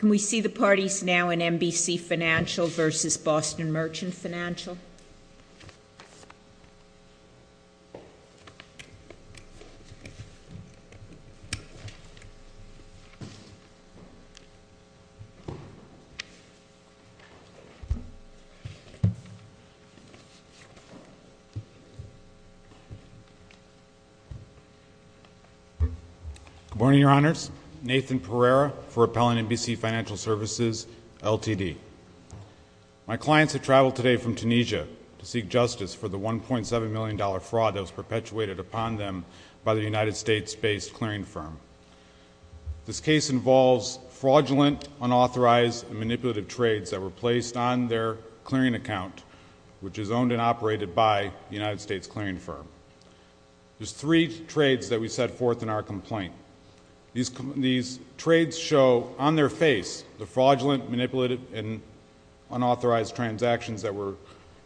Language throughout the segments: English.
Can we see the parties now in MBC Financial v. Boston Merchant Financial? Good morning, Your Honors. Nathan Pereira for Appellant MBC Financial Services Ltd. My clients have traveled today from Tunisia to seek justice for the $1.7 million fraud that was perpetuated upon them by the United States-based clearing firm. This case involves fraudulent, unauthorized, and manipulative trades that were placed on their clearing account, which is owned and operated by the United States clearing firm. There are three trades that we set forth in our complaint. These trades show on their face the fraudulent, manipulative, and unauthorized transactions that were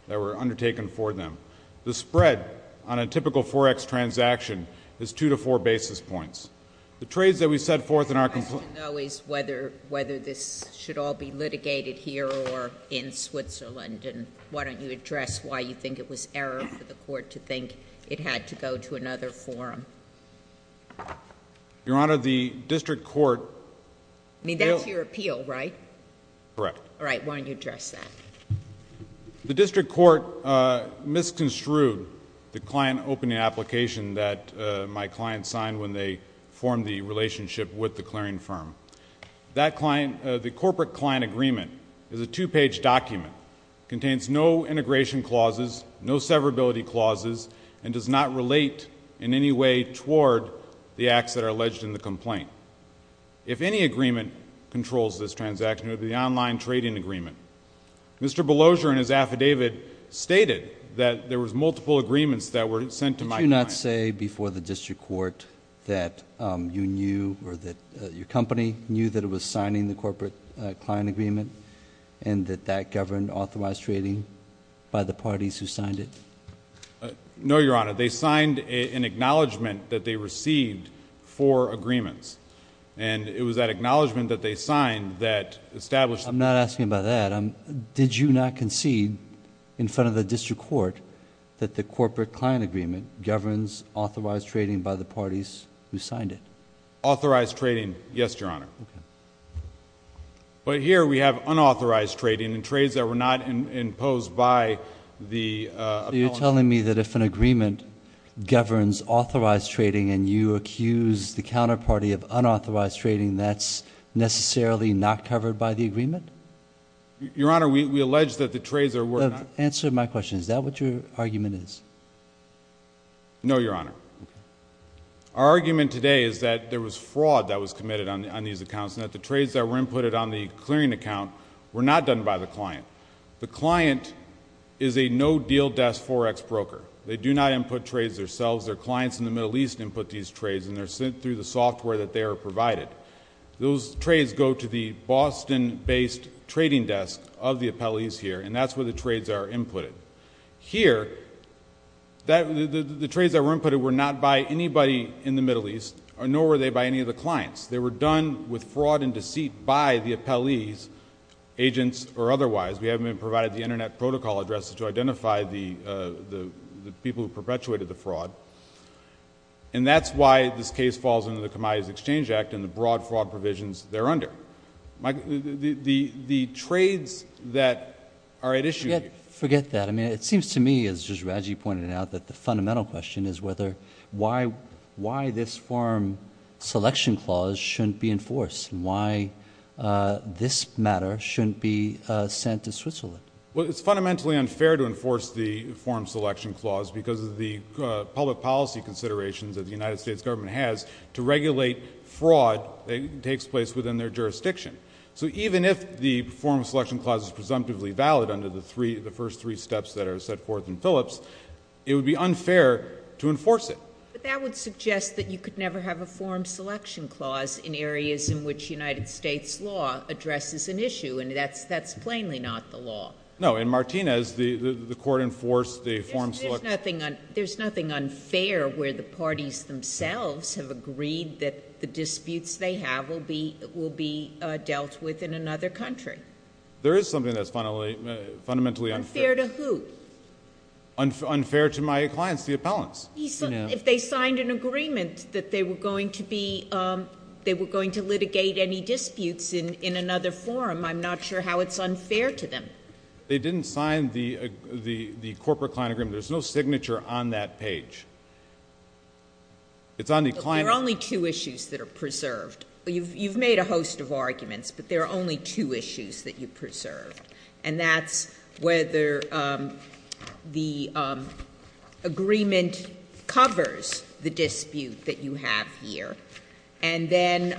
undertaken for them. The spread on a typical forex transaction is two to four basis points. The trades that we set forth in our complaint— My question, though, is whether this should all be litigated here or in Switzerland, and why don't you address why you think it was error for the court to think it had to go to another forum? Your Honor, the district court— I mean, that's your appeal, right? Correct. All right, why don't you address that? The district court misconstrued the client opening application that my client signed when they formed the relationship with the clearing firm. That client—the corporate client agreement is a two-page document. It contains no integration clauses, no severability clauses, and does not relate in any way toward the acts that are alleged in the complaint. If any agreement controls this transaction, it would be the online trading agreement. Mr. Belosior in his affidavit stated that there was multiple agreements that were sent to my client. Did you not say before the district court that you knew or that your company knew that it was signing the corporate client agreement and that that governed authorized trading by the parties who signed it? No, Your Honor. They signed an acknowledgment that they received for agreements, and it was that acknowledgment that they signed that established— I'm not asking about that. Did you not concede in front of the district court that the corporate client agreement governs authorized trading by the parties who signed it? Authorized trading, yes, Your Honor. But here we have unauthorized trading and trades that were not imposed by the— So you're telling me that if an agreement governs authorized trading and you accuse the counterparty of unauthorized trading, that's necessarily not covered by the agreement? Your Honor, we allege that the trades that were not— Answer my question. Is that what your argument is? No, Your Honor. Our argument today is that there was fraud that was committed on these accounts and that the trades that were inputted on the clearing account were not done by the client. The client is a no-deal desk 4X broker. They do not input trades themselves. Their clients in the Middle East input these trades, and they're sent through the software that they are provided. Those trades go to the Boston-based trading desk of the appellees here, and that's where the trades are inputted. Here, the trades that were inputted were not by anybody in the Middle East, nor were they by any of the clients. They were done with fraud and deceit by the appellees, agents or otherwise. We haven't even provided the internet protocol addresses to identify the people who perpetuated the fraud. And that's why this case falls under the Commodities Exchange Act and the broad fraud provisions thereunder. The trades that are at issue— Forget that. I mean, it seems to me, as just Raji pointed out, that the fundamental question is why this form selection clause shouldn't be enforced, and why this matter shouldn't be sent to Switzerland. Well, it's fundamentally unfair to enforce the form selection clause because of the public policy considerations that the United States government has to regulate fraud that takes place within their jurisdiction. So even if the form selection clause is presumptively valid under the first three steps that are set forth in Phillips, it would be unfair to enforce it. But that would suggest that you could never have a form selection clause in areas in which United States law addresses an issue, and that's plainly not the law. No. In Martinez, the court enforced the form selection— There's nothing unfair where the parties themselves have agreed that the disputes they have will be dealt with in another country. There is something that's fundamentally unfair. Unfair to who? Unfair to my clients, the appellants. If they signed an agreement that they were going to be—they were going to litigate any disputes in another forum, I'm not sure how it's unfair to them. They didn't sign the corporate client agreement. There's no signature on that page. It's on the client— There are only two issues that are preserved. You've made a host of arguments, but there are only two issues that you preserved, and that's whether the agreement covers the dispute that you have here, and then—and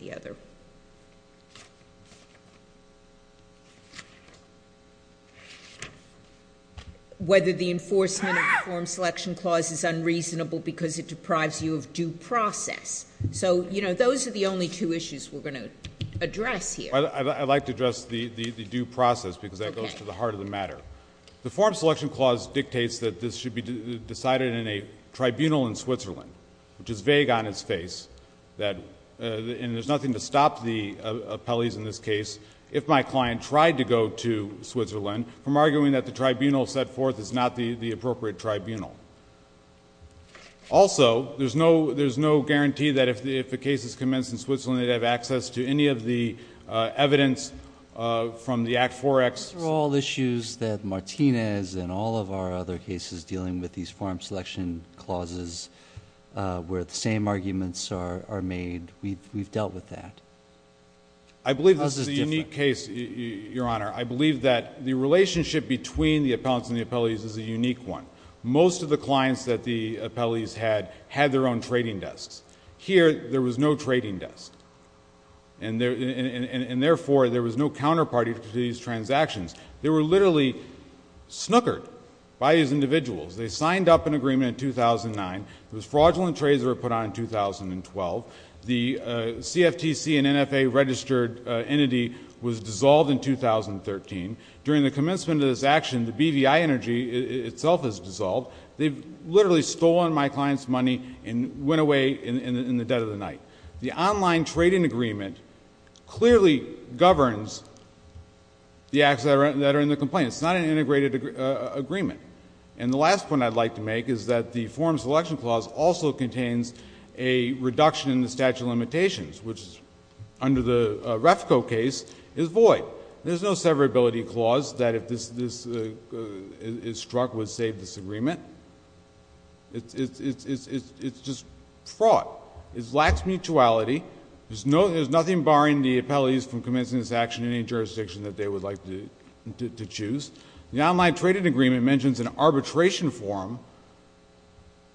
the other—whether the enforcement of the form selection clause is unreasonable because it deprives you of due process. So, you know, those are the only two issues we're going to address here. I'd like to address the due process, because that goes to the heart of the matter. The form selection clause dictates that this should be decided in a tribunal in Switzerland, which is vague on its face, and there's nothing to stop the appellees in this case, if my client tried to go to Switzerland, from arguing that the tribunal set forth is not the appropriate tribunal. Also, there's no—there's no guarantee that if the case is commenced in Switzerland, they'd have access to any of the evidence from the Act 4X. These are all issues that Martinez and all of our other cases dealing with these form selection clauses, where the same arguments are made. We've dealt with that. I believe this is a unique case, Your Honor. I believe that the relationship between the appellants and the appellees is a unique one. Most of the clients that the appellees had had their own trading desks. Here, there was no trading desk, and therefore, there was no counterparty to these transactions. They were literally snookered by these individuals. They signed up an agreement in 2009. Those fraudulent trades were put on in 2012. The CFTC and NFA-registered entity was dissolved in 2013. During the commencement of this action, the BVI energy itself is dissolved. They've literally stolen my client's money and went away in the dead of the night. The online trading agreement clearly governs the acts that are in the complaint. It's not an integrated agreement. And the last point I'd like to make is that the form selection clause also contains a reduction in the statute of limitations, which, under the Refco case, is void. There's no severability clause that, if this is struck, would save this agreement. It's just fraud. It lacks mutuality. There's nothing barring the appellees from commencing this action in any jurisdiction that they would like to choose. The online trading agreement mentions an arbitration form.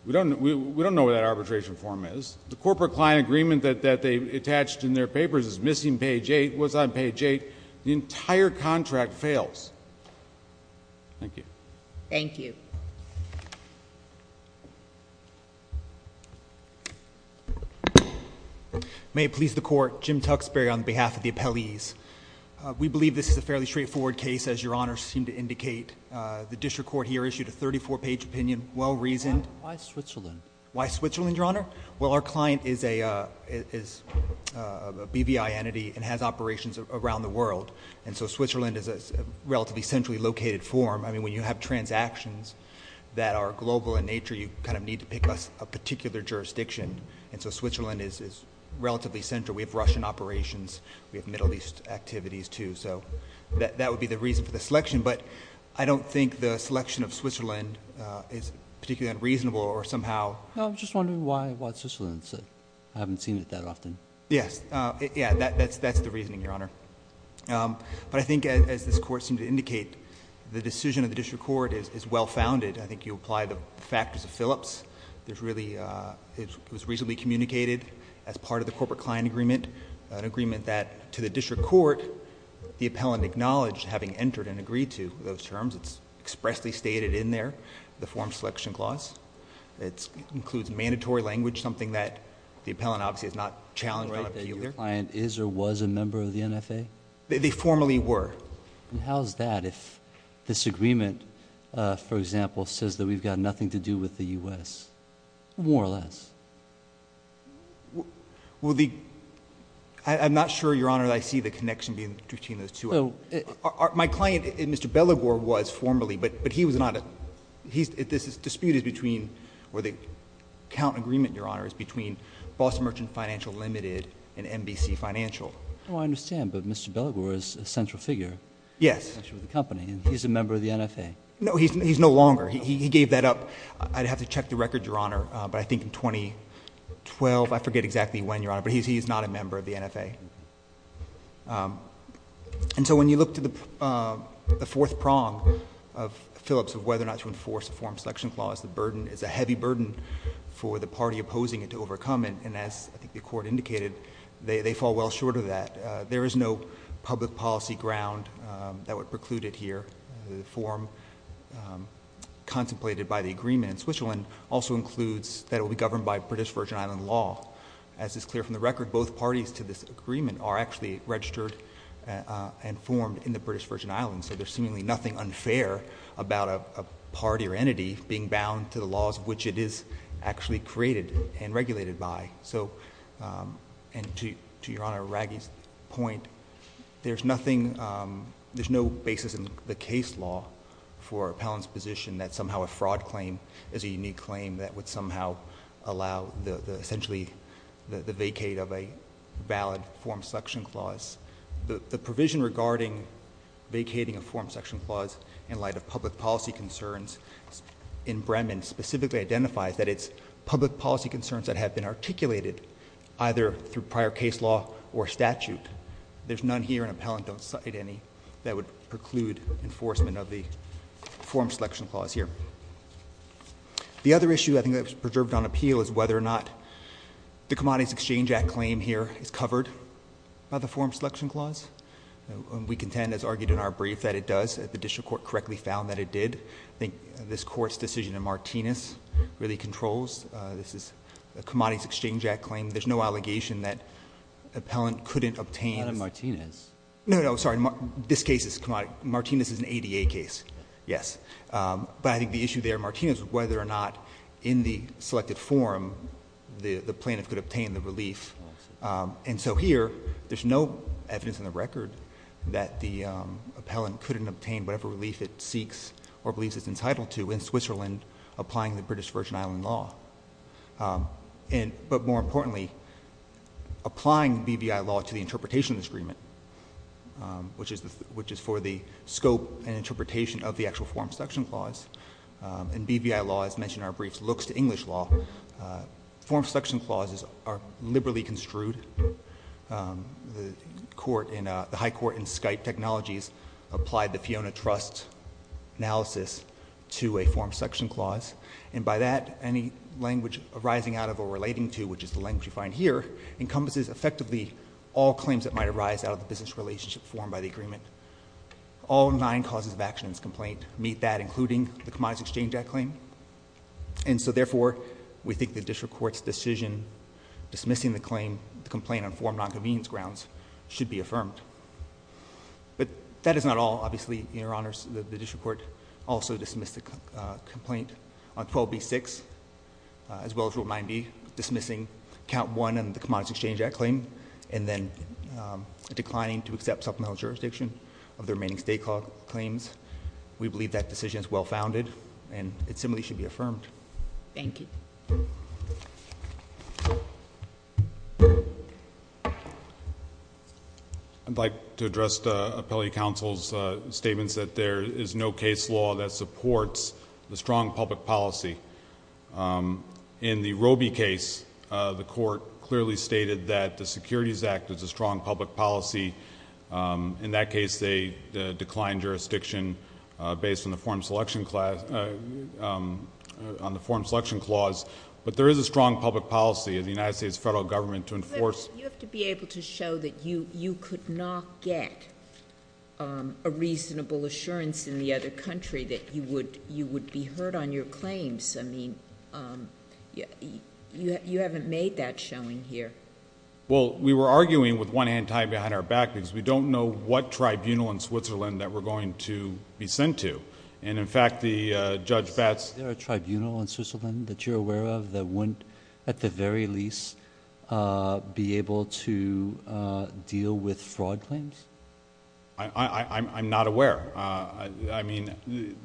We don't know what that arbitration form is. The corporate client agreement that they attached in their papers is missing page 8. It was on page 8. The entire contract fails. Thank you. Thank you. May it please the Court. Jim Tuxbury on behalf of the appellees. We believe this is a fairly straightforward case, as Your Honor seemed to indicate. The district court here issued a 34-page opinion, well-reasoned. Why Switzerland? Why Switzerland, Your Honor? Well, our client is a BVI entity and has operations around the world. And so Switzerland is a relatively centrally located form. I mean, when you have transactions that are global in nature, you kind of need to pick a particular jurisdiction. And so Switzerland is relatively central. We have Russian operations. We have Middle East activities, too. So that would be the reason for the selection. But I don't think the selection of Switzerland is particularly unreasonable or somehow— No, I'm just wondering why Switzerland. I haven't seen it that often. Yes. Yeah, that's the reasoning, Your Honor. But I think, as this Court seemed to indicate, the decision of the district court is well-founded. I think you apply the factors of Phillips. There's really—it was reasonably communicated as part of the Corporate Client Agreement, an agreement that, to the district court, the appellant acknowledged having entered and agreed to those terms. It's expressly stated in there, the form selection clause. It includes mandatory language, something that the appellant obviously has not challenged on appeal either. Am I right that your client is or was a member of the NFA? They formally were. And how's that if this agreement, for example, says that we've got nothing to do with the U.S.? More or less. Well, the—I'm not sure, Your Honor, that I see the connection between those two. Well, it— My client, Mr. Belagor, was formally, but he was not—this dispute is between or the account agreement, Your Honor, is between Boston Merchant Financial Limited and NBC Financial. Oh, I understand. But Mr. Belagor is a central figure— Yes. —actually with the company, and he's a member of the NFA. No, he's no longer. He gave that up. I'd have to check the record, Your Honor, but I think in 2012—I forget exactly when, Your Honor, but he's not a member of the NFA. And so when you look to the fourth prong of Phillips of whether or not to enforce a form of Selection Clause, the burden is a heavy burden for the party opposing it to overcome, and as I think the Court indicated, they fall well short of that. There is no public policy ground that would preclude it here. The form contemplated by the agreement in Switzerland also includes that it will be governed by British Virgin Island law. As is clear from the record, both parties to this agreement are actually registered and formed in the British Virgin Islands, so there's seemingly nothing unfair about a party or entity being bound to the laws of which it is actually created and regulated by. So—and to Your Honor Raggi's point, there's nothing—there's no basis in the case law for Appellant's position that somehow a fraud claim is a unique claim that would somehow allow the—essentially the vacate of a valid form of Selection Clause. The provision regarding vacating a form of Selection Clause in light of public policy concerns in Bremen specifically identifies that it's public policy concerns that have been articulated either through prior case law or statute. There's none here, and Appellant don't cite any that would preclude enforcement of the form of Selection Clause here. The other issue I think that was preserved on appeal is whether or not the Commodities Exchange Act claim here is covered by the form of Selection Clause. We contend, as argued in our brief, that it does. The district court correctly found that it did. I think this Court's decision in Martinez really controls. This is a Commodities Exchange Act claim. There's no allegation that Appellant couldn't obtain— Not in Martinez. No, no. Sorry. This case is—Martinez is an ADA case, yes. But I think the issue there in Martinez is whether or not in the selected form the plaintiff could obtain the relief. And so here, there's no evidence in the record that the Appellant couldn't obtain whatever relief it seeks or believes it's entitled to in Switzerland applying the British Virgin Island law. But more importantly, applying BVI law to the interpretation of this agreement, which is for the scope and interpretation of the actual form of Selection Clause, and BVI law, as mentioned in our brief, looks to English law. Form of Selection Clauses are liberally construed. The High Court in Skype Technologies applied the Fiona Trust analysis to a form of Selection Clause, and by that, any language arising out of or relating to, which is the language you find here, encompasses effectively all claims that might arise out of the business relationship formed by the agreement. All nine causes of action in this complaint meet that, including the Commodities Exchange Act claim. And so therefore, we think the District Court's decision dismissing the complaint on four non-convenience grounds should be affirmed. But that is not all, obviously, Your Honors. The District Court also dismissed the complaint on 12B6, as well as Rule 9B, dismissing Count 1 in the Commodities Exchange Act claim, and then declining to accept supplemental jurisdiction of the remaining State Clause claims. We believe that decision is well-founded, and it simply should be affirmed. Thank you. I'd like to address the Appellee Counsel's statements that there is no case law that supports the strong public policy. In the Robie case, the Court clearly stated that the Securities Act is a strong public policy. In that case, they declined jurisdiction based on the Form Selection Clause, but there is a strong public policy of the United States Federal Government to enforce— But you have to be able to show that you could not get a reasonable assurance in the other country that you would be heard on your claims. I mean, you haven't made that showing here. Well, we were arguing with one hand tied behind our back because we don't know what tribunal in Switzerland that we're going to be sent to. In fact, Judge Batts— Is there a tribunal in Switzerland that you're aware of that wouldn't, at the very least, be able to deal with fraud claims? I'm not aware.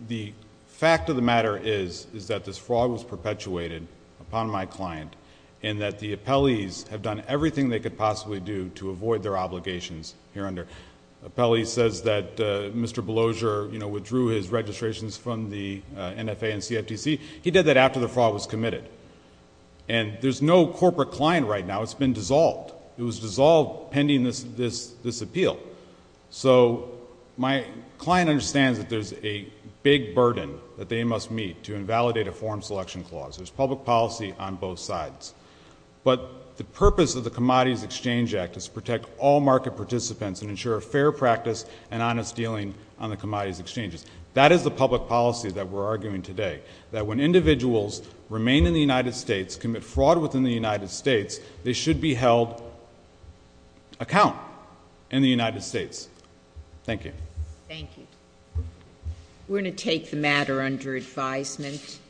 The fact of the matter is that this fraud was perpetuated upon my client, and that the appellees have done everything they could possibly do to avoid their obligations here under— The appellee says that Mr. Belozer withdrew his registrations from the NFA and CFTC. He did that after the fraud was committed. And there's no corporate client right now. It's been dissolved. It was dissolved pending this appeal. So my client understands that there's a big burden that they must meet to invalidate a Form Selection Clause. There's public policy on both sides. But the purpose of the Commodities Exchange Act is to protect all market participants and ensure fair practice and honest dealing on the commodities exchanges. That is the public policy that we're arguing today, that when individuals remain in the United States, commit fraud within the United States, they should be held account in the United States. Thank you. Thank you. We're going to take the matter under advisement.